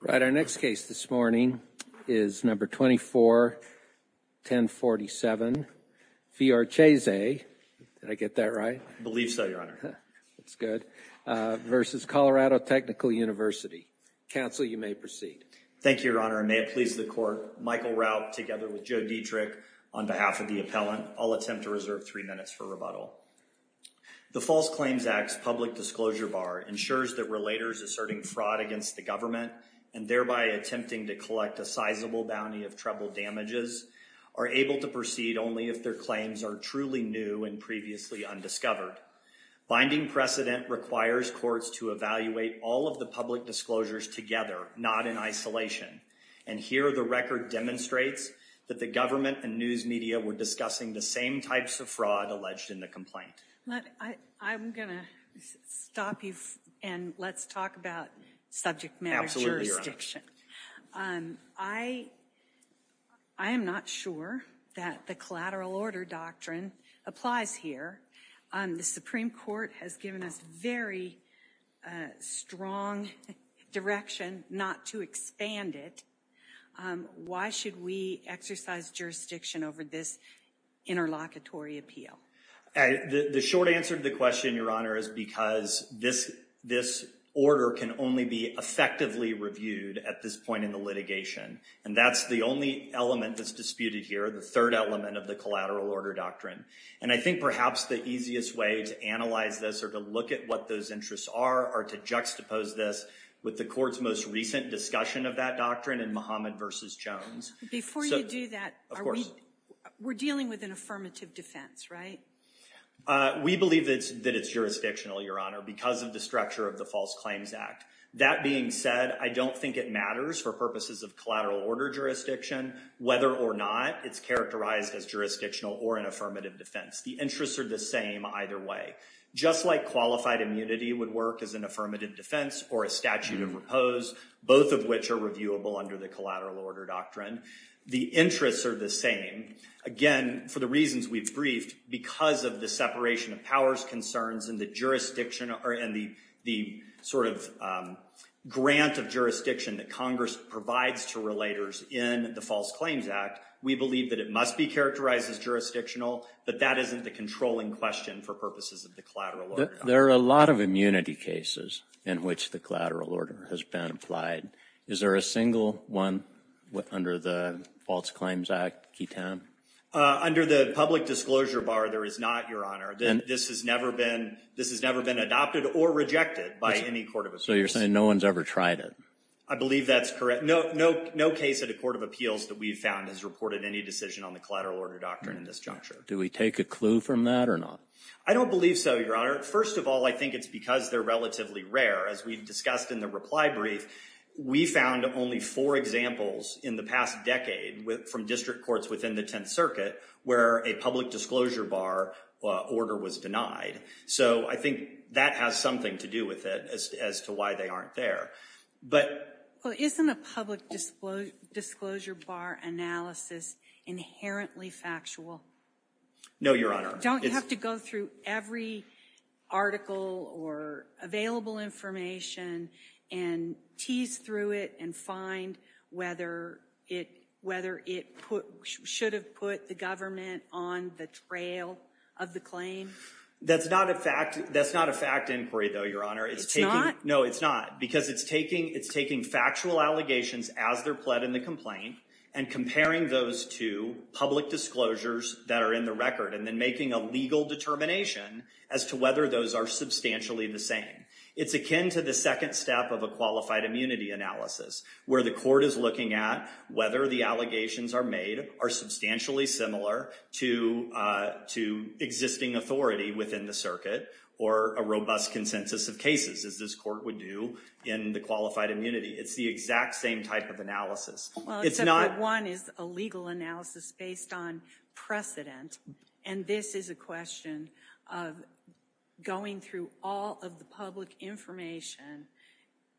Right, our next case this morning is number 24-1047, Fiorcese, did I get that right? I believe so, your honor. That's good, versus Colorado Technical University. Counsel, you may proceed. Thank you, your honor, and may it please the court, Michael Rauch together with Joe Dietrich on behalf of the appellant, I'll attempt to reserve three minutes for rebuttal. The False Claims Act's public disclosure bar ensures that relators asserting fraud against the government, and thereby attempting to collect a sizable bounty of treble damages, are able to proceed only if their claims are truly new and previously undiscovered. Binding precedent requires courts to evaluate all of the public disclosures together, not in isolation, and here the record demonstrates that the government and news media were discussing the same types of fraud alleged in the complaint. I'm going to stop you, and let's talk about subject matter jurisdiction. I am not sure that the collateral order doctrine applies here. The Supreme Court has given us very strong direction not to expand it. Why should we exercise jurisdiction over this interlocutory appeal? The short answer to the question, your honor, is because this order can only be effectively reviewed at this point in the litigation, and that's the only element that's disputed here, the third element of the collateral order doctrine, and I think perhaps the easiest way to analyze this, or to look at what those interests are, are to juxtapose this with the court's most recent discussion of that doctrine in Muhammad Jones. Before you do that, we're dealing with an affirmative defense, right? We believe that it's jurisdictional, your honor, because of the structure of the False Claims Act. That being said, I don't think it matters for purposes of collateral order jurisdiction whether or not it's characterized as jurisdictional or an affirmative defense. The interests are the same either way. Just like qualified immunity would work as an affirmative defense or a statute of repose, both of which are reviewable under the collateral order doctrine, the interests are the same. Again, for the reasons we've briefed, because of the separation of powers concerns and the sort of grant of jurisdiction that Congress provides to relators in the False Claims Act, we believe that it must be characterized as jurisdictional, but that isn't the controlling question for purposes of the collateral order. There are a lot of immunity cases in which the collateral order has been applied. Is there a single one under the False Claims Act, Keytown? Under the public disclosure bar, there is not, your honor. This has never been adopted or rejected by any court of appeals. So you're saying no one's ever tried it? I believe that's correct. No case at a court of appeals that we've found has reported any decision on the collateral order doctrine in this juncture. Do we take a clue from that or not? I don't believe so, your honor. First of all, I think it's because they're relatively rare. As we've discussed in the reply brief, we found only four examples in the past decade from district courts within the Tenth Circuit where a public disclosure bar order was denied. So I think that has something to do with it as to why they aren't there. But isn't a public disclosure bar analysis inherently factual? No, your honor. Don't you have to go through every article or available information and tease through it and find whether it should have put the government on the trail of the claim? That's not a fact inquiry, though, your honor. It's not? No, it's not. Because it's taking factual allegations as they're pled in the complaint and comparing those to public disclosures that are in the record, and then making a legal determination as to whether those are substantially the same. It's akin to the second step of a qualified immunity analysis, where the court is looking at whether the allegations are made are substantially similar to existing authority within the circuit or a robust consensus of cases, as this court would do in the qualified immunity. It's the exact same type of analysis. One is a legal analysis based on precedent. And this is a question of going through all of the public information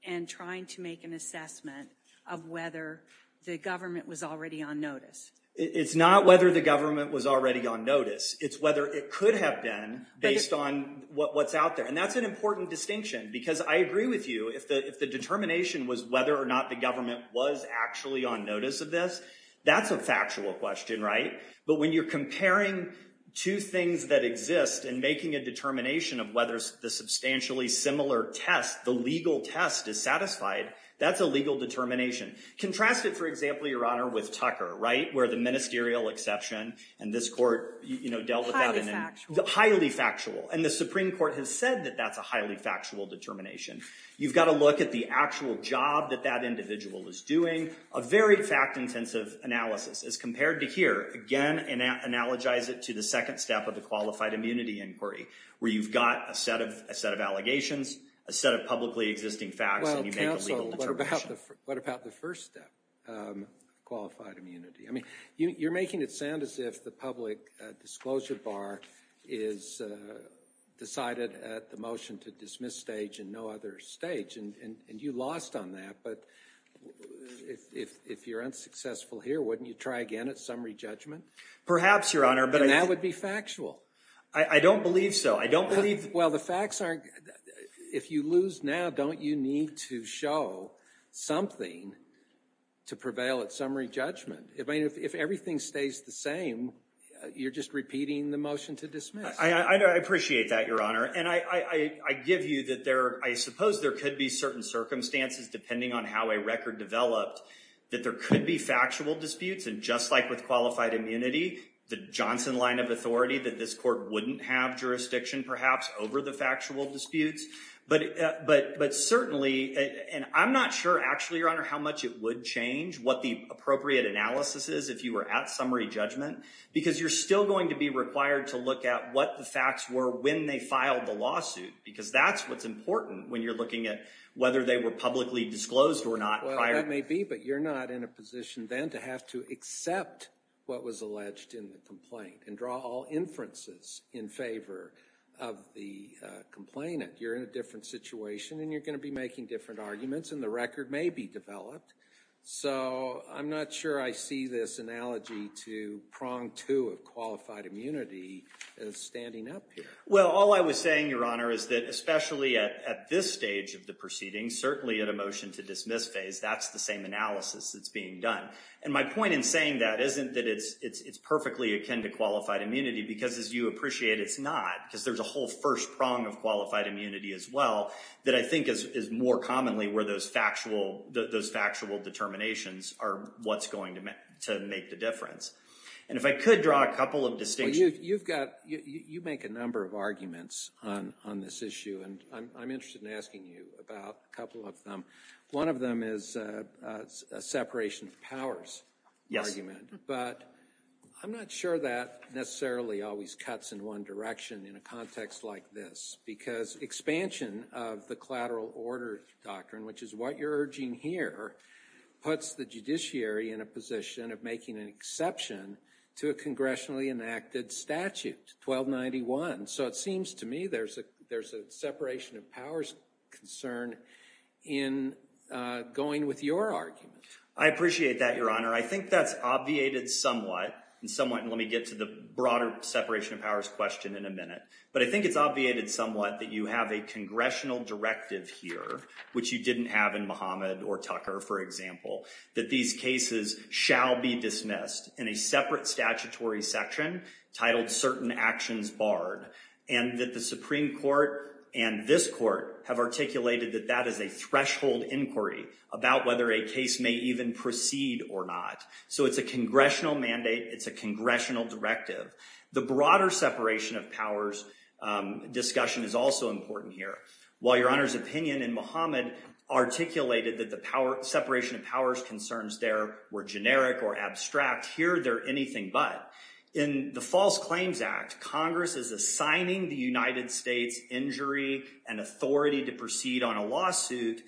and trying to make an assessment of whether the government was already on notice. It's not whether the government was already on notice. It's whether it could have been based on what's out there. And that's an important distinction. Because I agree with you. If the determination was whether or not the government was actually on notice of this, that's a factual question, right? But when you're comparing two things that exist and making a determination of whether the substantially similar test, the legal test is satisfied, that's a legal determination. Contrast it, for example, your honor, with Tucker, right? Where the ministerial exception and this court, you know, dealt with that. Highly factual. Highly factual. And the Supreme Court has said that that's a highly factual determination. You've got to look at the actual job that that individual is doing. A very fact-intensive analysis as compared to here. Again, analogize it to the second step of the qualified immunity inquiry, where you've got a set of allegations, a set of publicly existing facts. Well, counsel, what about the first step, qualified immunity? I mean, you're making it sound as if the public disclosure bar is decided at the motion to dismiss stage and no other stage, and you lost on that. But if you're unsuccessful here, wouldn't you try again at summary judgment? Perhaps, your honor. And that would be factual. I don't believe so. I don't believe... Well, the facts aren't... If you lose now, don't you need to show something to prevail at summary judgment? I mean, if everything stays the same, you're just repeating the motion to dismiss. I appreciate that, your honor. I give you that I suppose there could be certain circumstances, depending on how a record developed, that there could be factual disputes. And just like with qualified immunity, the Johnson line of authority, that this court wouldn't have jurisdiction, perhaps, over the factual disputes. But certainly... And I'm not sure, actually, your honor, how much it would change what the appropriate analysis is if you were at summary judgment, because you're still going to be required to look at what the facts were when they filed the lawsuit. Because that's what's important when you're looking at whether they were publicly disclosed or not prior... Well, that may be. But you're not in a position then to have to accept what was alleged in the complaint and draw all inferences in favor of the complainant. You're in a different situation and you're going to be making different arguments and the record may be developed. So I'm not sure I see this analogy to prong two of qualified immunity as standing up here. Well, all I was saying, your honor, is that especially at this stage of the proceeding, certainly at a motion to dismiss phase, that's the same analysis that's being done. And my point in saying that isn't that it's perfectly akin to qualified immunity, because as you appreciate, it's not. Because there's a whole first prong of qualified immunity as well that I think is more commonly where those factual determinations are what's going to make the difference. And if I could draw a couple of distinctions... You make a number of arguments on this issue, and I'm interested in asking you about a couple of them. One of them is a separation of powers argument. But I'm not sure that necessarily always cuts in one direction in a context like this. Because expansion of the collateral order doctrine, which is what you're urging here, puts the judiciary in a position of making an exception to a congressionally enacted statute, 1291. So it seems to me there's a separation of powers concern in going with your argument. I appreciate that, your honor. I think that's obviated somewhat. And let me get to the broader separation of powers question in a minute. But I think it's obviated somewhat that you have a congressional directive here, which you didn't have in Muhammad or Tucker, for example, that these cases shall be dismissed in a separate statutory section titled certain actions barred. And that the Supreme Court and this court have articulated that that is a threshold inquiry about whether a case may even proceed or not. So it's a congressional mandate. It's a congressional directive. The broader separation of powers discussion is also important here. While your honor's opinion in Muhammad articulated that the separation of powers concerns there were generic or abstract, here they're anything but. In the False Claims Act, Congress is assigning the United States injury and authority to proceed on a lawsuit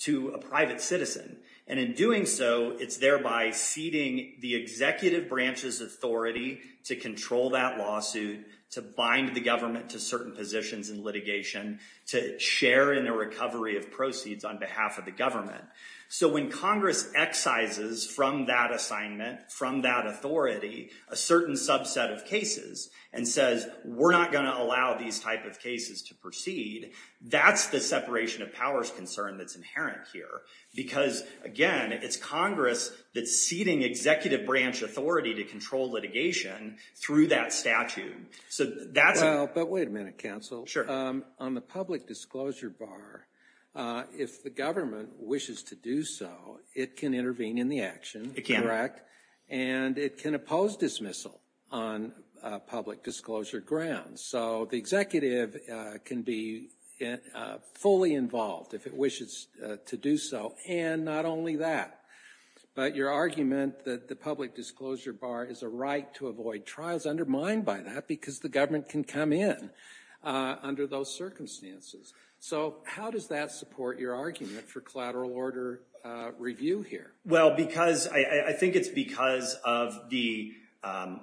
to a private citizen. And in doing so, it's thereby ceding the executive branch's authority to control that lawsuit, to bind the government to certain positions in litigation, to share in the recovery of proceeds on behalf of the government. So when Congress excises from that assignment, from that authority, a certain subset of cases, and says we're not going to allow these type of cases to proceed, that's the separation of powers concern that's inherent here. Because, again, it's Congress that's ceding executive branch authority to control litigation through that statute. So that's... Well, but wait a minute, counsel. Sure. On the public disclosure bar, if the government wishes to do so, it can intervene in the action, correct? And it can oppose dismissal on public disclosure grounds. So the executive can be fully involved if it wishes to do so. And not only that, but your argument that the public disclosure bar is a right to avoid trials undermined by that because the government can come in under those circumstances. So how does that support your argument for collateral order review here? Well, because I think it's because of the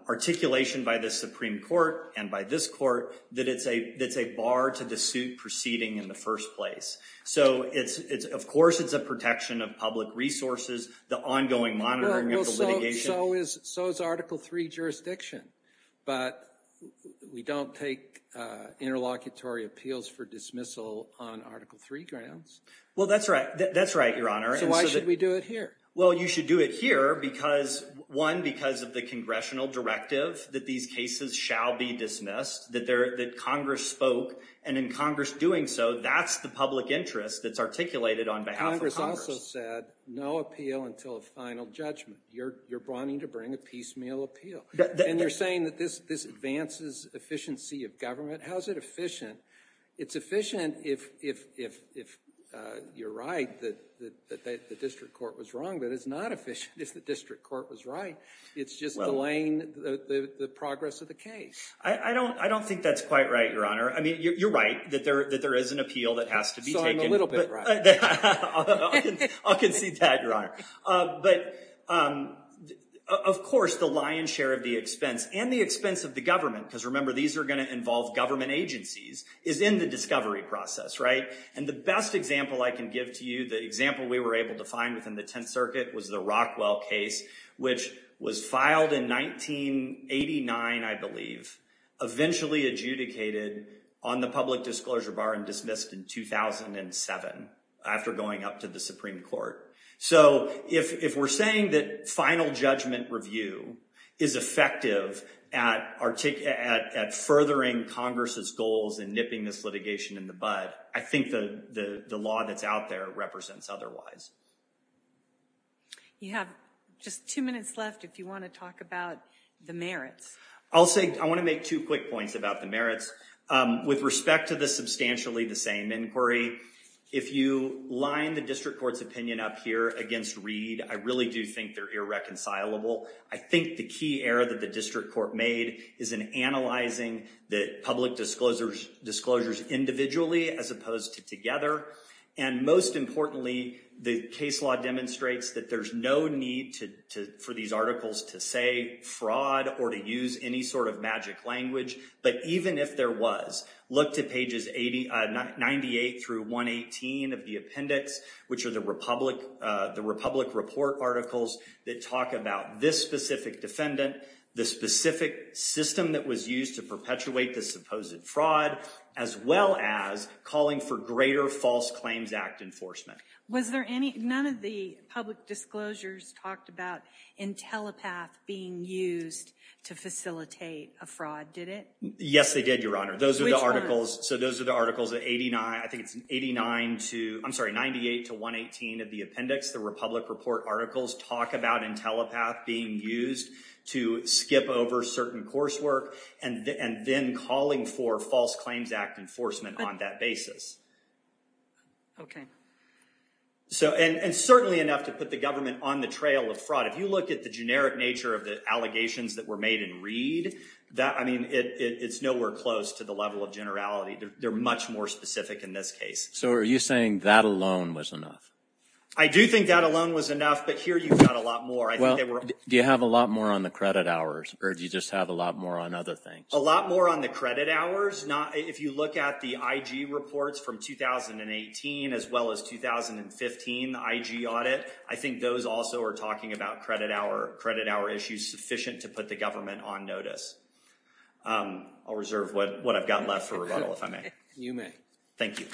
articulation by the Supreme Court and by this court that it's a bar to the suit proceeding in the first place. So of course, it's a protection of public resources, the ongoing monitoring of the litigation. Well, so is Article III jurisdiction. But we don't take interlocutory appeals for dismissal on Article III grounds. Well, that's right. That's right, Your Honor. So why should we do it here? Well, you should do it here because, one, because of the congressional directive that these cases shall be dismissed, that Congress spoke. And in Congress doing so, that's the public interest that's articulated on behalf of Congress. Congress also said no appeal until a final judgment. You're wanting to bring a piecemeal appeal. And you're saying that this advances efficiency of government? How is it efficient? It's efficient if you're right, that the district court was wrong. But it's not efficient if the district court was right. It's just delaying the progress of the case. I don't think that's quite right, Your Honor. I mean, you're right that there is an appeal that has to be taken. So I'm a little bit right. I'll concede that, Your Honor. But of course, the lion's share of the expense and the expense of the government, because remember, these are going to involve government agencies, is in the discovery process, right? And the best example I can give to you, the example we were able to find within the Tenth Circuit was the Rockwell case, which was filed in 1989, I believe, eventually adjudicated on the public disclosure bar and dismissed in 2007 after going up to the Supreme Court. So if we're saying that final judgment review is effective at furthering Congress's goals and nipping this litigation in the bud, I think the law that's out there represents otherwise. You have just two minutes left if you want to talk about the merits. I'll say I want to make two quick points about the merits. With respect to the substantially the same inquiry, if you line the district court's opinion up here against Reed, I really do think they're irreconcilable. I think the key error that the district court made is in analyzing the public disclosures individually as opposed to together. And most importantly, the case law demonstrates that there's no need for these articles to say fraud or to use any sort of magic language. But even if there was, look to pages 98 through 118 of the appendix, which are the Republic Report articles that talk about this specific defendant, the specific system that was used to perpetuate the supposed fraud, as well as calling for greater False Claims Act enforcement. Was there any, none of the public disclosures talked about Intellipath being used to facilitate a fraud, did it? Yes, they did, Your Honor. Those are the articles, so those are the articles at 89, I think it's 89 to, I'm sorry, 98 to 118 of the appendix. The Republic Report articles talk about Intellipath being used to skip over certain coursework and then calling for False Claims Act enforcement on that basis. Okay. So, and certainly enough to put the government on the trail of fraud. If you look at the generic nature of the allegations that were made in Reed, that, I mean, it's nowhere close to the level of generality. They're much more specific in this case. So are you saying that alone was enough? I do think that alone was enough, but here you've got a lot more. Well, do you have a lot more on the credit hours, or do you just have a lot more on other things? A lot more on the credit hours. If you look at the IG reports from 2018, as well as 2015 IG audit, I think those also are talking about credit hour issues sufficient to put the government on notice. I'll reserve what I've got left for rebuttal, if I may. You may. Thank you.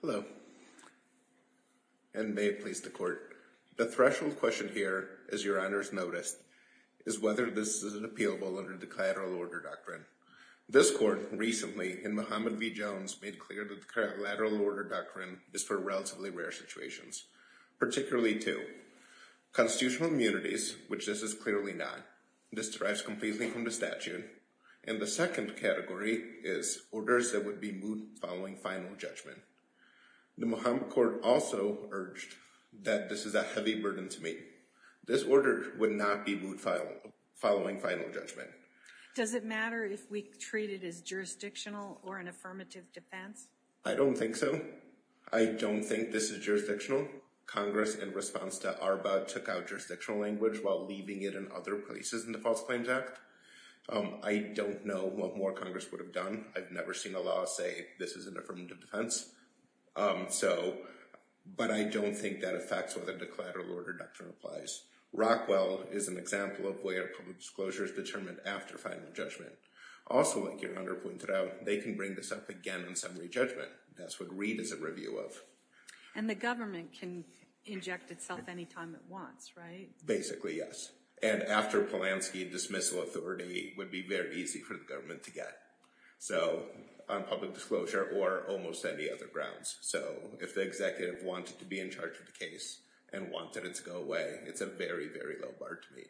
Hello, and may it please the Court. The threshold question here, as your honors noticed, is whether this is appealable under the collateral order doctrine. This Court recently, in Muhammad v. Jones, made clear that the collateral order doctrine is for relatively rare situations, particularly to constitutional immunities, which this is clearly not. This derives completely from the statute. And the second category is orders that would be moved following final judgment. The Muhammad Court also urged that this is a heavy burden to me. This order would not be moved following final judgment. Does it matter if we treat it as jurisdictional or an affirmative defense? I don't think so. I don't think this is jurisdictional. Congress, in response to ARBA, took out jurisdictional language while leaving it in other places in the False Claims Act. I don't know what more Congress would have done. I've never seen a law say this is an affirmative defense. So, but I don't think that affects whether the collateral order doctrine applies. Rockwell is an example of where public disclosure is determined after final judgment. Also, like your honor pointed out, they can bring this up again in summary judgment. That's what Reid is a review of. And the government can inject itself anytime it wants, right? Basically, yes. And after Polanski, dismissal authority would be very easy for the government to get. So, on public disclosure or almost any other grounds. So, if the executive wanted to be in charge of the case and wanted it to go away, it's a very, very low bar to me.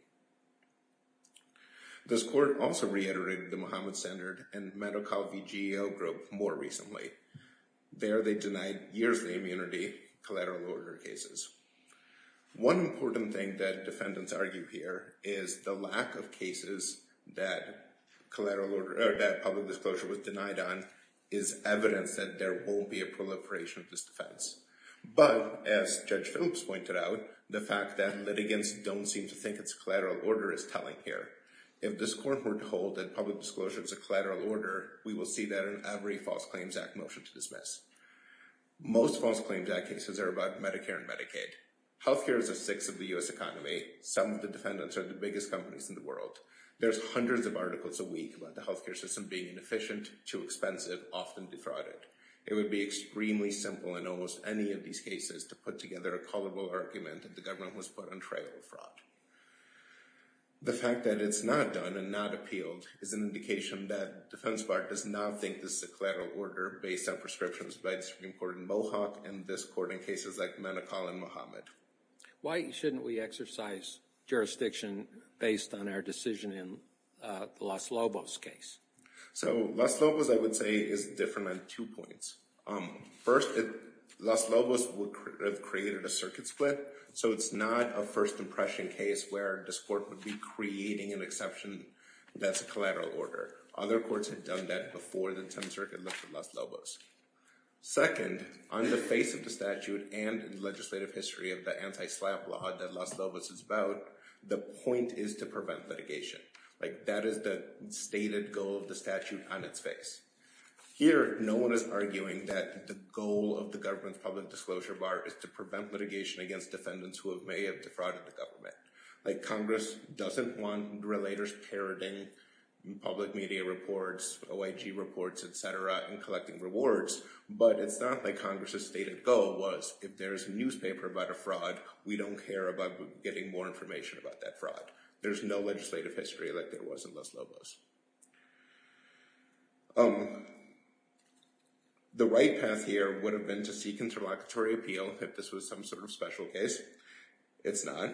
This court also reiterated the Muhammad Standard and MediCal v. GEO group more recently. There, they denied years of immunity collateral order cases. One important thing that defendants argue here is the lack of cases that collateral order, that public disclosure was denied on, is evidence that there won't be a proliferation of this defense. But as Judge Phillips pointed out, the fact that litigants don't seem to think it's collateral order is telling here. If this court were told that public disclosure is a collateral order, we will see that in every False Claims Act motion to dismiss. Most False Claims Act cases are about Medicare and Medicaid. Healthcare is a sixth of the U.S. economy. Some of the defendants are the biggest companies in the world. There's hundreds of articles a week about the healthcare system being inefficient, too expensive, often defrauded. It would be extremely simple in almost any of these cases to put together a callable argument that the government was put on trail of fraud. The fact that it's not done and not appealed is an indication that Defense Bar does not think this is a collateral order based on prescriptions by the Supreme Court in Mohawk and this court in cases like MediCal and Muhammad. Why shouldn't we exercise jurisdiction based on our decision in the Los Lobos case? So Los Lobos, I would say, is different on two points. First, Los Lobos would have created a circuit split. So it's not a first impression case where this court would be creating an exception that's a collateral order. Other courts had done that before the 10th Circuit lifted Los Lobos. Second, on the face of the statute and legislative history of the anti-slap law that Los Lobos is about, the point is to prevent litigation. That is the stated goal of the statute on its face. Here, no one is arguing that the goal of the government's public disclosure bar is to prevent litigation against defendants who may have defrauded the government. Congress doesn't want relators parroting public media reports, OIG reports, et cetera, and collecting rewards. But it's not like Congress's stated goal was, if there is a newspaper about a fraud, we don't care about getting more information about that fraud. There's no legislative history like there was in Los Lobos. The right path here would have been to seek interlocutory appeal if this was some sort of special case. It's not.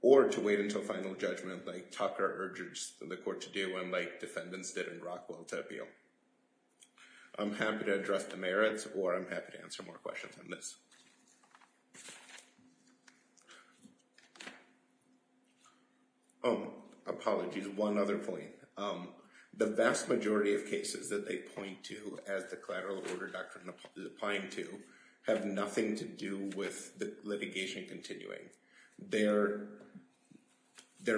Or to wait until final judgment like Tucker urges the court to do like defendants did in Rockwell to appeal. I'm happy to address the merits, or I'm happy to answer more questions on this. Oh, apologies. One other point. The vast majority of cases that they point to as the collateral order doctrine is applying to have nothing to do with the litigation continuing. Their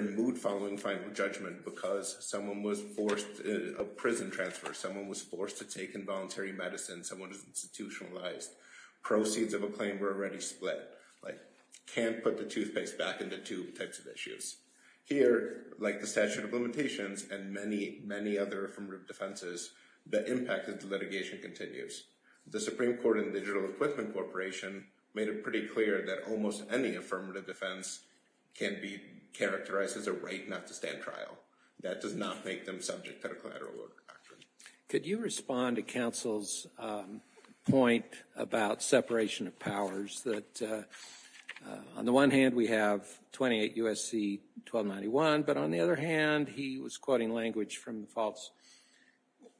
mood following final judgment because someone was forced a prison transfer. Someone was forced to take involuntary medicine. Someone is institutionalized. Proceeds of a claim were already split. Can't put the toothpaste back in the tube types of issues. Here, like the statute of limitations and many, many other affirmative defenses, the impact of the litigation continues. The Supreme Court and Digital Equipment Corporation made it pretty clear that almost any affirmative defense can be characterized as a right not to stand trial. That does not make them subject to the collateral order doctrine. Could you respond to counsel's point about separation of powers? That on the one hand, we have 28 U.S.C. 1291, but on the other hand, he was quoting language from the False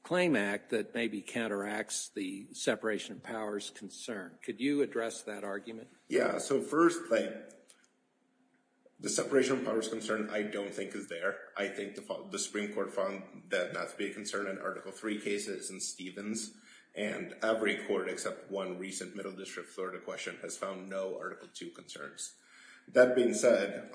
Claim Act that maybe counteracts the separation of powers concern. Could you address that argument? Yeah, so first thing, the separation of powers concern I don't think is there. I think the Supreme Court found that not to be a concern in Article III cases and Stevens, and every court except one recent Middle District Florida question has found no Article II concerns. That being said,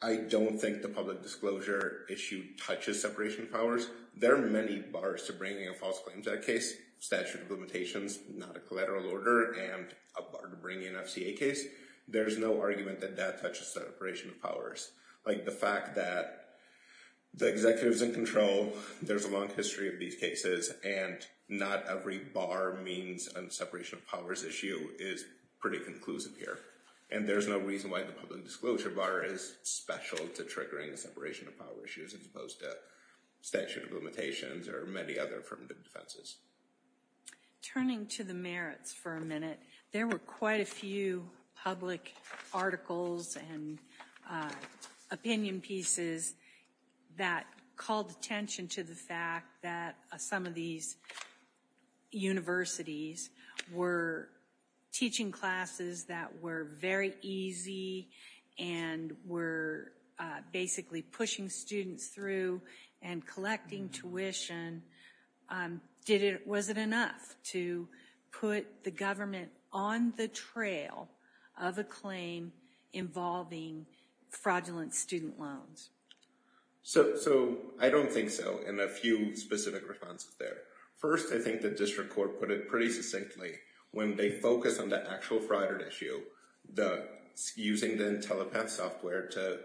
I don't think the public disclosure issue touches separation of powers. There are many bars to bringing a false claim to that case. Statute of limitations, not a collateral order, and a bar to bringing an FCA case. There's no argument that that touches separation of powers. The fact that the executive's in control, there's a long history of these cases, and not every bar means a separation of powers issue is pretty conclusive here. And there's no reason why the public disclosure bar is special to triggering the separation of powers issues as opposed to statute of limitations or many other affirmative defenses. Turning to the merits for a minute, there were quite a few public articles and opinion pieces that called attention to the fact that some of these universities were teaching classes that were very easy and were basically pushing students through and collecting tuition. Was it enough to put the government on the trail of a claim involving fraudulent student loans? So I don't think so, and a few specific responses there. First, I think the district court put it pretty succinctly. When they focus on the actual fraud issue, using the telepath software to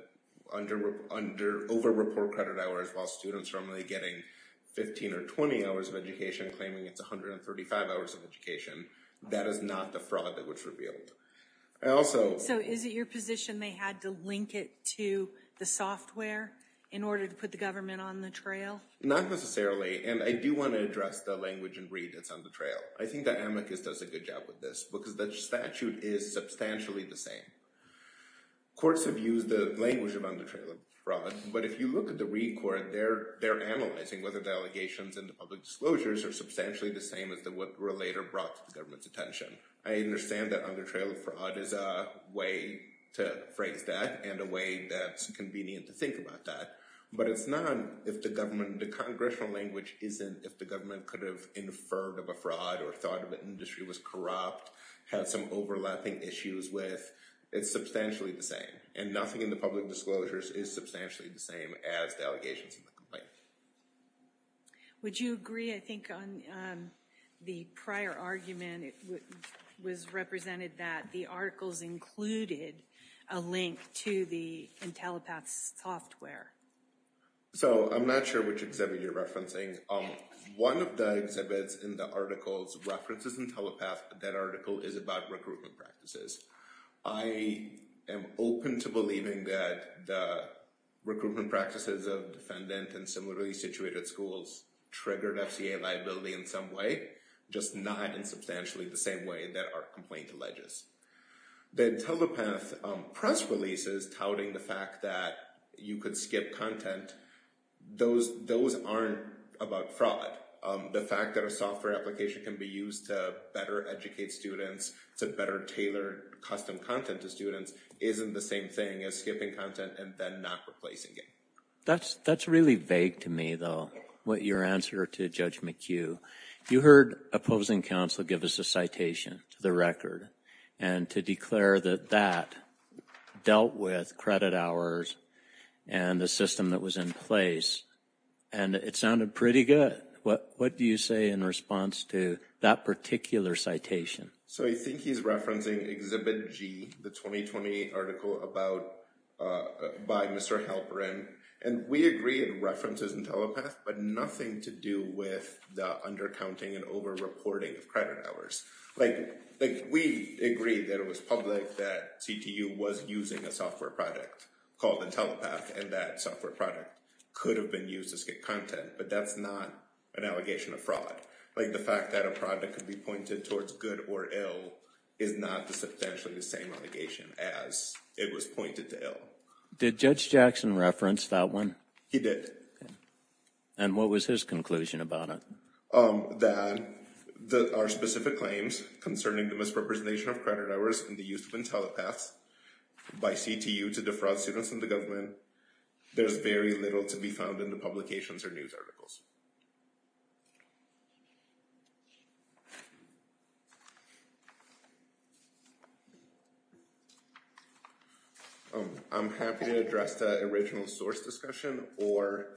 over-report credit hours while students are only getting 15 or 20 hours of education, claiming it's 135 hours of education, that is not the fraud that was revealed. So is it your position they had to link it to the software in order to put the government on the trail? Not necessarily. And I do want to address the language and read that's on the trail. I think the amicus does a good job with this because the statute is substantially the same. Courts have used the language of on the trail of fraud, but if you look at the Reed court, they're analyzing whether the allegations and the public disclosures are substantially the same as what were later brought to the government's attention. I understand that on the trail of fraud is a way to phrase that and a way that's convenient to think about that. But it's not if the government, the congressional language isn't if the government could have inferred of a fraud or thought of an industry was corrupt, had some overlapping issues with. It's substantially the same. And nothing in the public disclosures is substantially the same as the allegations in the complaint. Would you agree, I think, on the prior argument was represented that the articles included a link to the Intellipaat software? So I'm not sure which exhibit you're referencing. One of the exhibits in the articles references Intellipaat, that article is about recruitment practices. I am open to believing that the recruitment practices of defendant and similarly situated schools triggered FCA liability in some way, just not in substantially the same way that our complaint alleges. The Intellipaat press releases touting the fact that you could skip content, those aren't about fraud. The fact that a software application can be used to better educate students, to better tailor custom content to students, isn't the same thing as skipping content and then not replacing it. That's really vague to me, though, what your answer to Judge McHugh. You heard opposing counsel give us a citation to the record and to declare that that dealt with credit hours and the system that was in place and it sounded pretty good. What do you say in response to that particular citation? So I think he's referencing Exhibit G, the 2020 article by Mr. Halperin, and we agree it references Intellipaat, but nothing to do with the undercounting and over-reporting of credit hours. Like we agree that it was public that CTU was using a software product called Intellipaat and that software product could have been used to skip content, but that's not an allegation of fraud. Like the fact that a product could be pointed towards good or ill is not the substantially the same allegation as it was pointed to ill. Did Judge Jackson reference that one? He did. And what was his conclusion about it? That there are specific claims concerning the misrepresentation of credit hours in the use of Intellipaat by CTU to defraud students and the government. There's very little to be found in the publications or news articles. I'm happy to address the original source discussion or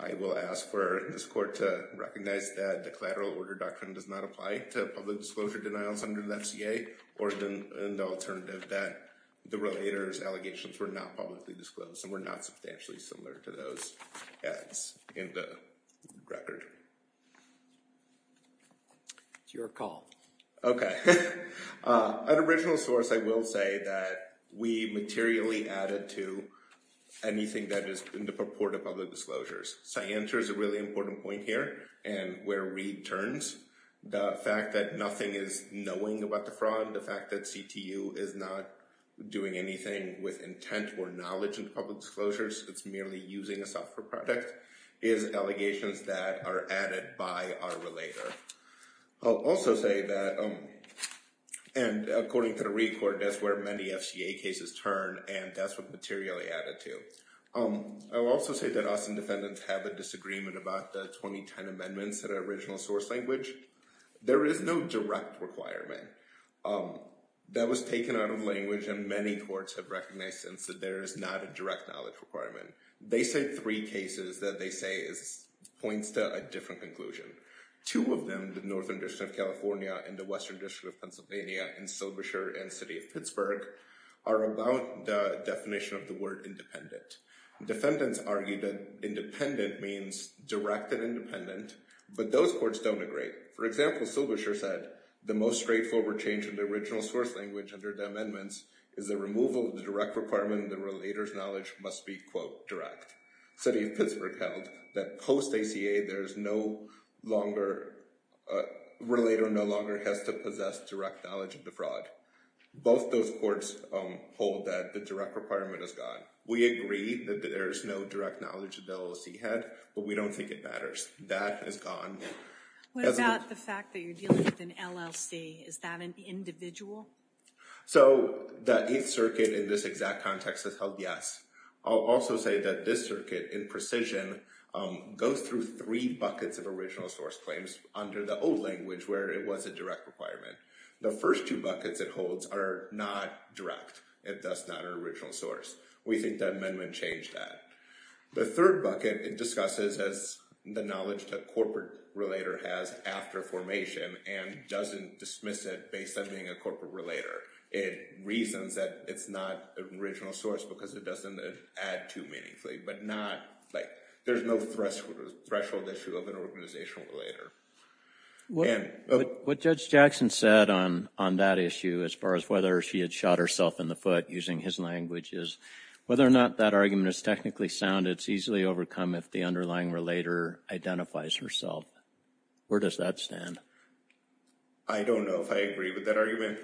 I will ask for this court to recognize that the collateral order doctrine does not apply to public disclosure denials under the FCA or the alternative that the relators' allegations were not publicly disclosed and were not substantially similar to those ads in the record. It's your call. Okay. An original source, I will say that we materially added to anything that is in the purport of public disclosures. Scientia is a really important point here and where Reed turns, the fact that nothing is knowing about the fraud, the fact that CTU is not doing anything with intent or knowledge in public disclosures, it's merely using a software product, is allegations that are added by our relator. I'll also say that, and according to the Reed court, that's where many FCA cases turn and that's what materially added to. I'll also say that us and defendants have a disagreement about the 2010 amendments that are original source language. There is no direct requirement. That was taken out of language and many courts have recognized since that there is not a direct knowledge requirement. They say three cases that they say points to a different conclusion. Two of them, the Northern District of California and the Western District of Pennsylvania and Silbershire and City of Pittsburgh are about the definition of the word independent. Defendants argue that independent means direct and independent, but those courts don't agree. For example, Silbershire said, the most straightforward change in the original source language under the amendments is the removal of the direct requirement that the relator's knowledge must be, quote, direct. City of Pittsburgh held that post-ACA there's no longer, relator no longer has to possess direct knowledge of the fraud. Both those courts hold that the direct requirement is gone. We agree that there is no direct knowledge that the LLC had, but we don't think it matters. That is gone. What about the fact that you're dealing with an LLC? Is that an individual? So that each circuit in this exact context has held yes. I'll also say that this circuit in precision goes through three buckets of original source claims under the old language where it was a direct requirement. The first two buckets it holds are not direct. It does not an original source. We think that amendment changed that. The third bucket it discusses as the knowledge that corporate relator has after formation and doesn't dismiss it based on being a corporate relator. It reasons that it's not an original source because it doesn't add to meaningfully, but not like, there's no threshold issue of an organizational relator. What Judge Jackson said on that issue as far as whether she had shot herself in the foot using his language is whether or not that argument is technically sound, it's easily overcome if the underlying relator identifies herself. Where does that stand? I don't know if I agree with that argument.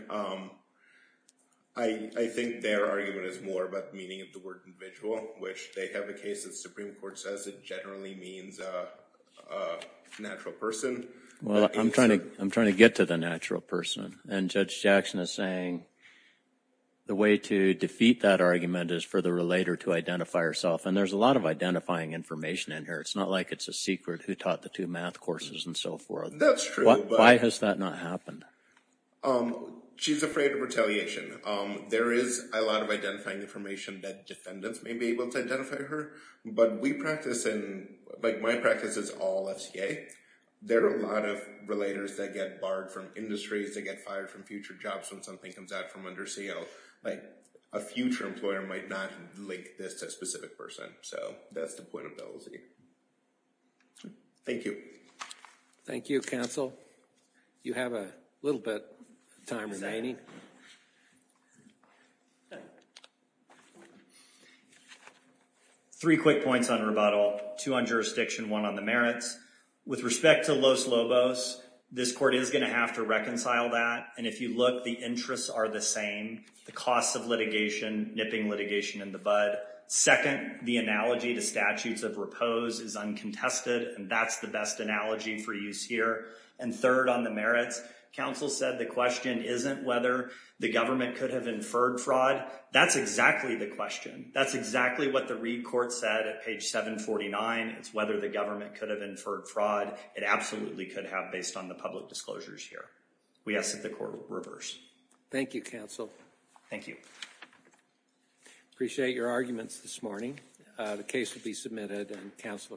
I think their argument is more about the meaning of the word individual, which they have a case that Supreme Court says it generally means a natural person. Well, I'm trying to get to the natural person and Judge Jackson is saying the way to defeat that argument is for the relator to identify herself and there's a lot of identifying information in here. It's not like it's a secret who taught the two math courses and so forth. That's true. Why has that not happened? She's afraid of retaliation. There is a lot of identifying information that defendants may be able to identify her, but my practice is all FCA. There are a lot of relators that get barred from industries, they get fired from future jobs when something comes out from under CO. Like a future employer might not link this to a specific person. So that's the point of LLC. Thank you. Thank you, counsel. You have a little bit of time remaining. Okay. Three quick points on rebuttal. Two on jurisdiction, one on the merits. With respect to Los Lobos, this court is going to have to reconcile that. And if you look, the interests are the same. The costs of litigation, nipping litigation in the bud. Second, the analogy to statutes of repose is uncontested and that's the best analogy for use here. And third on the merits, counsel said the question isn't whether the government could have inferred fraud. That's exactly the question. That's exactly what the Reid court said at page 749. It's whether the government could have inferred fraud. It absolutely could have based on the public disclosures here. We ask that the court reverse. Thank you, counsel. Thank you. Appreciate your arguments this morning. The case will be submitted and counsel are excused.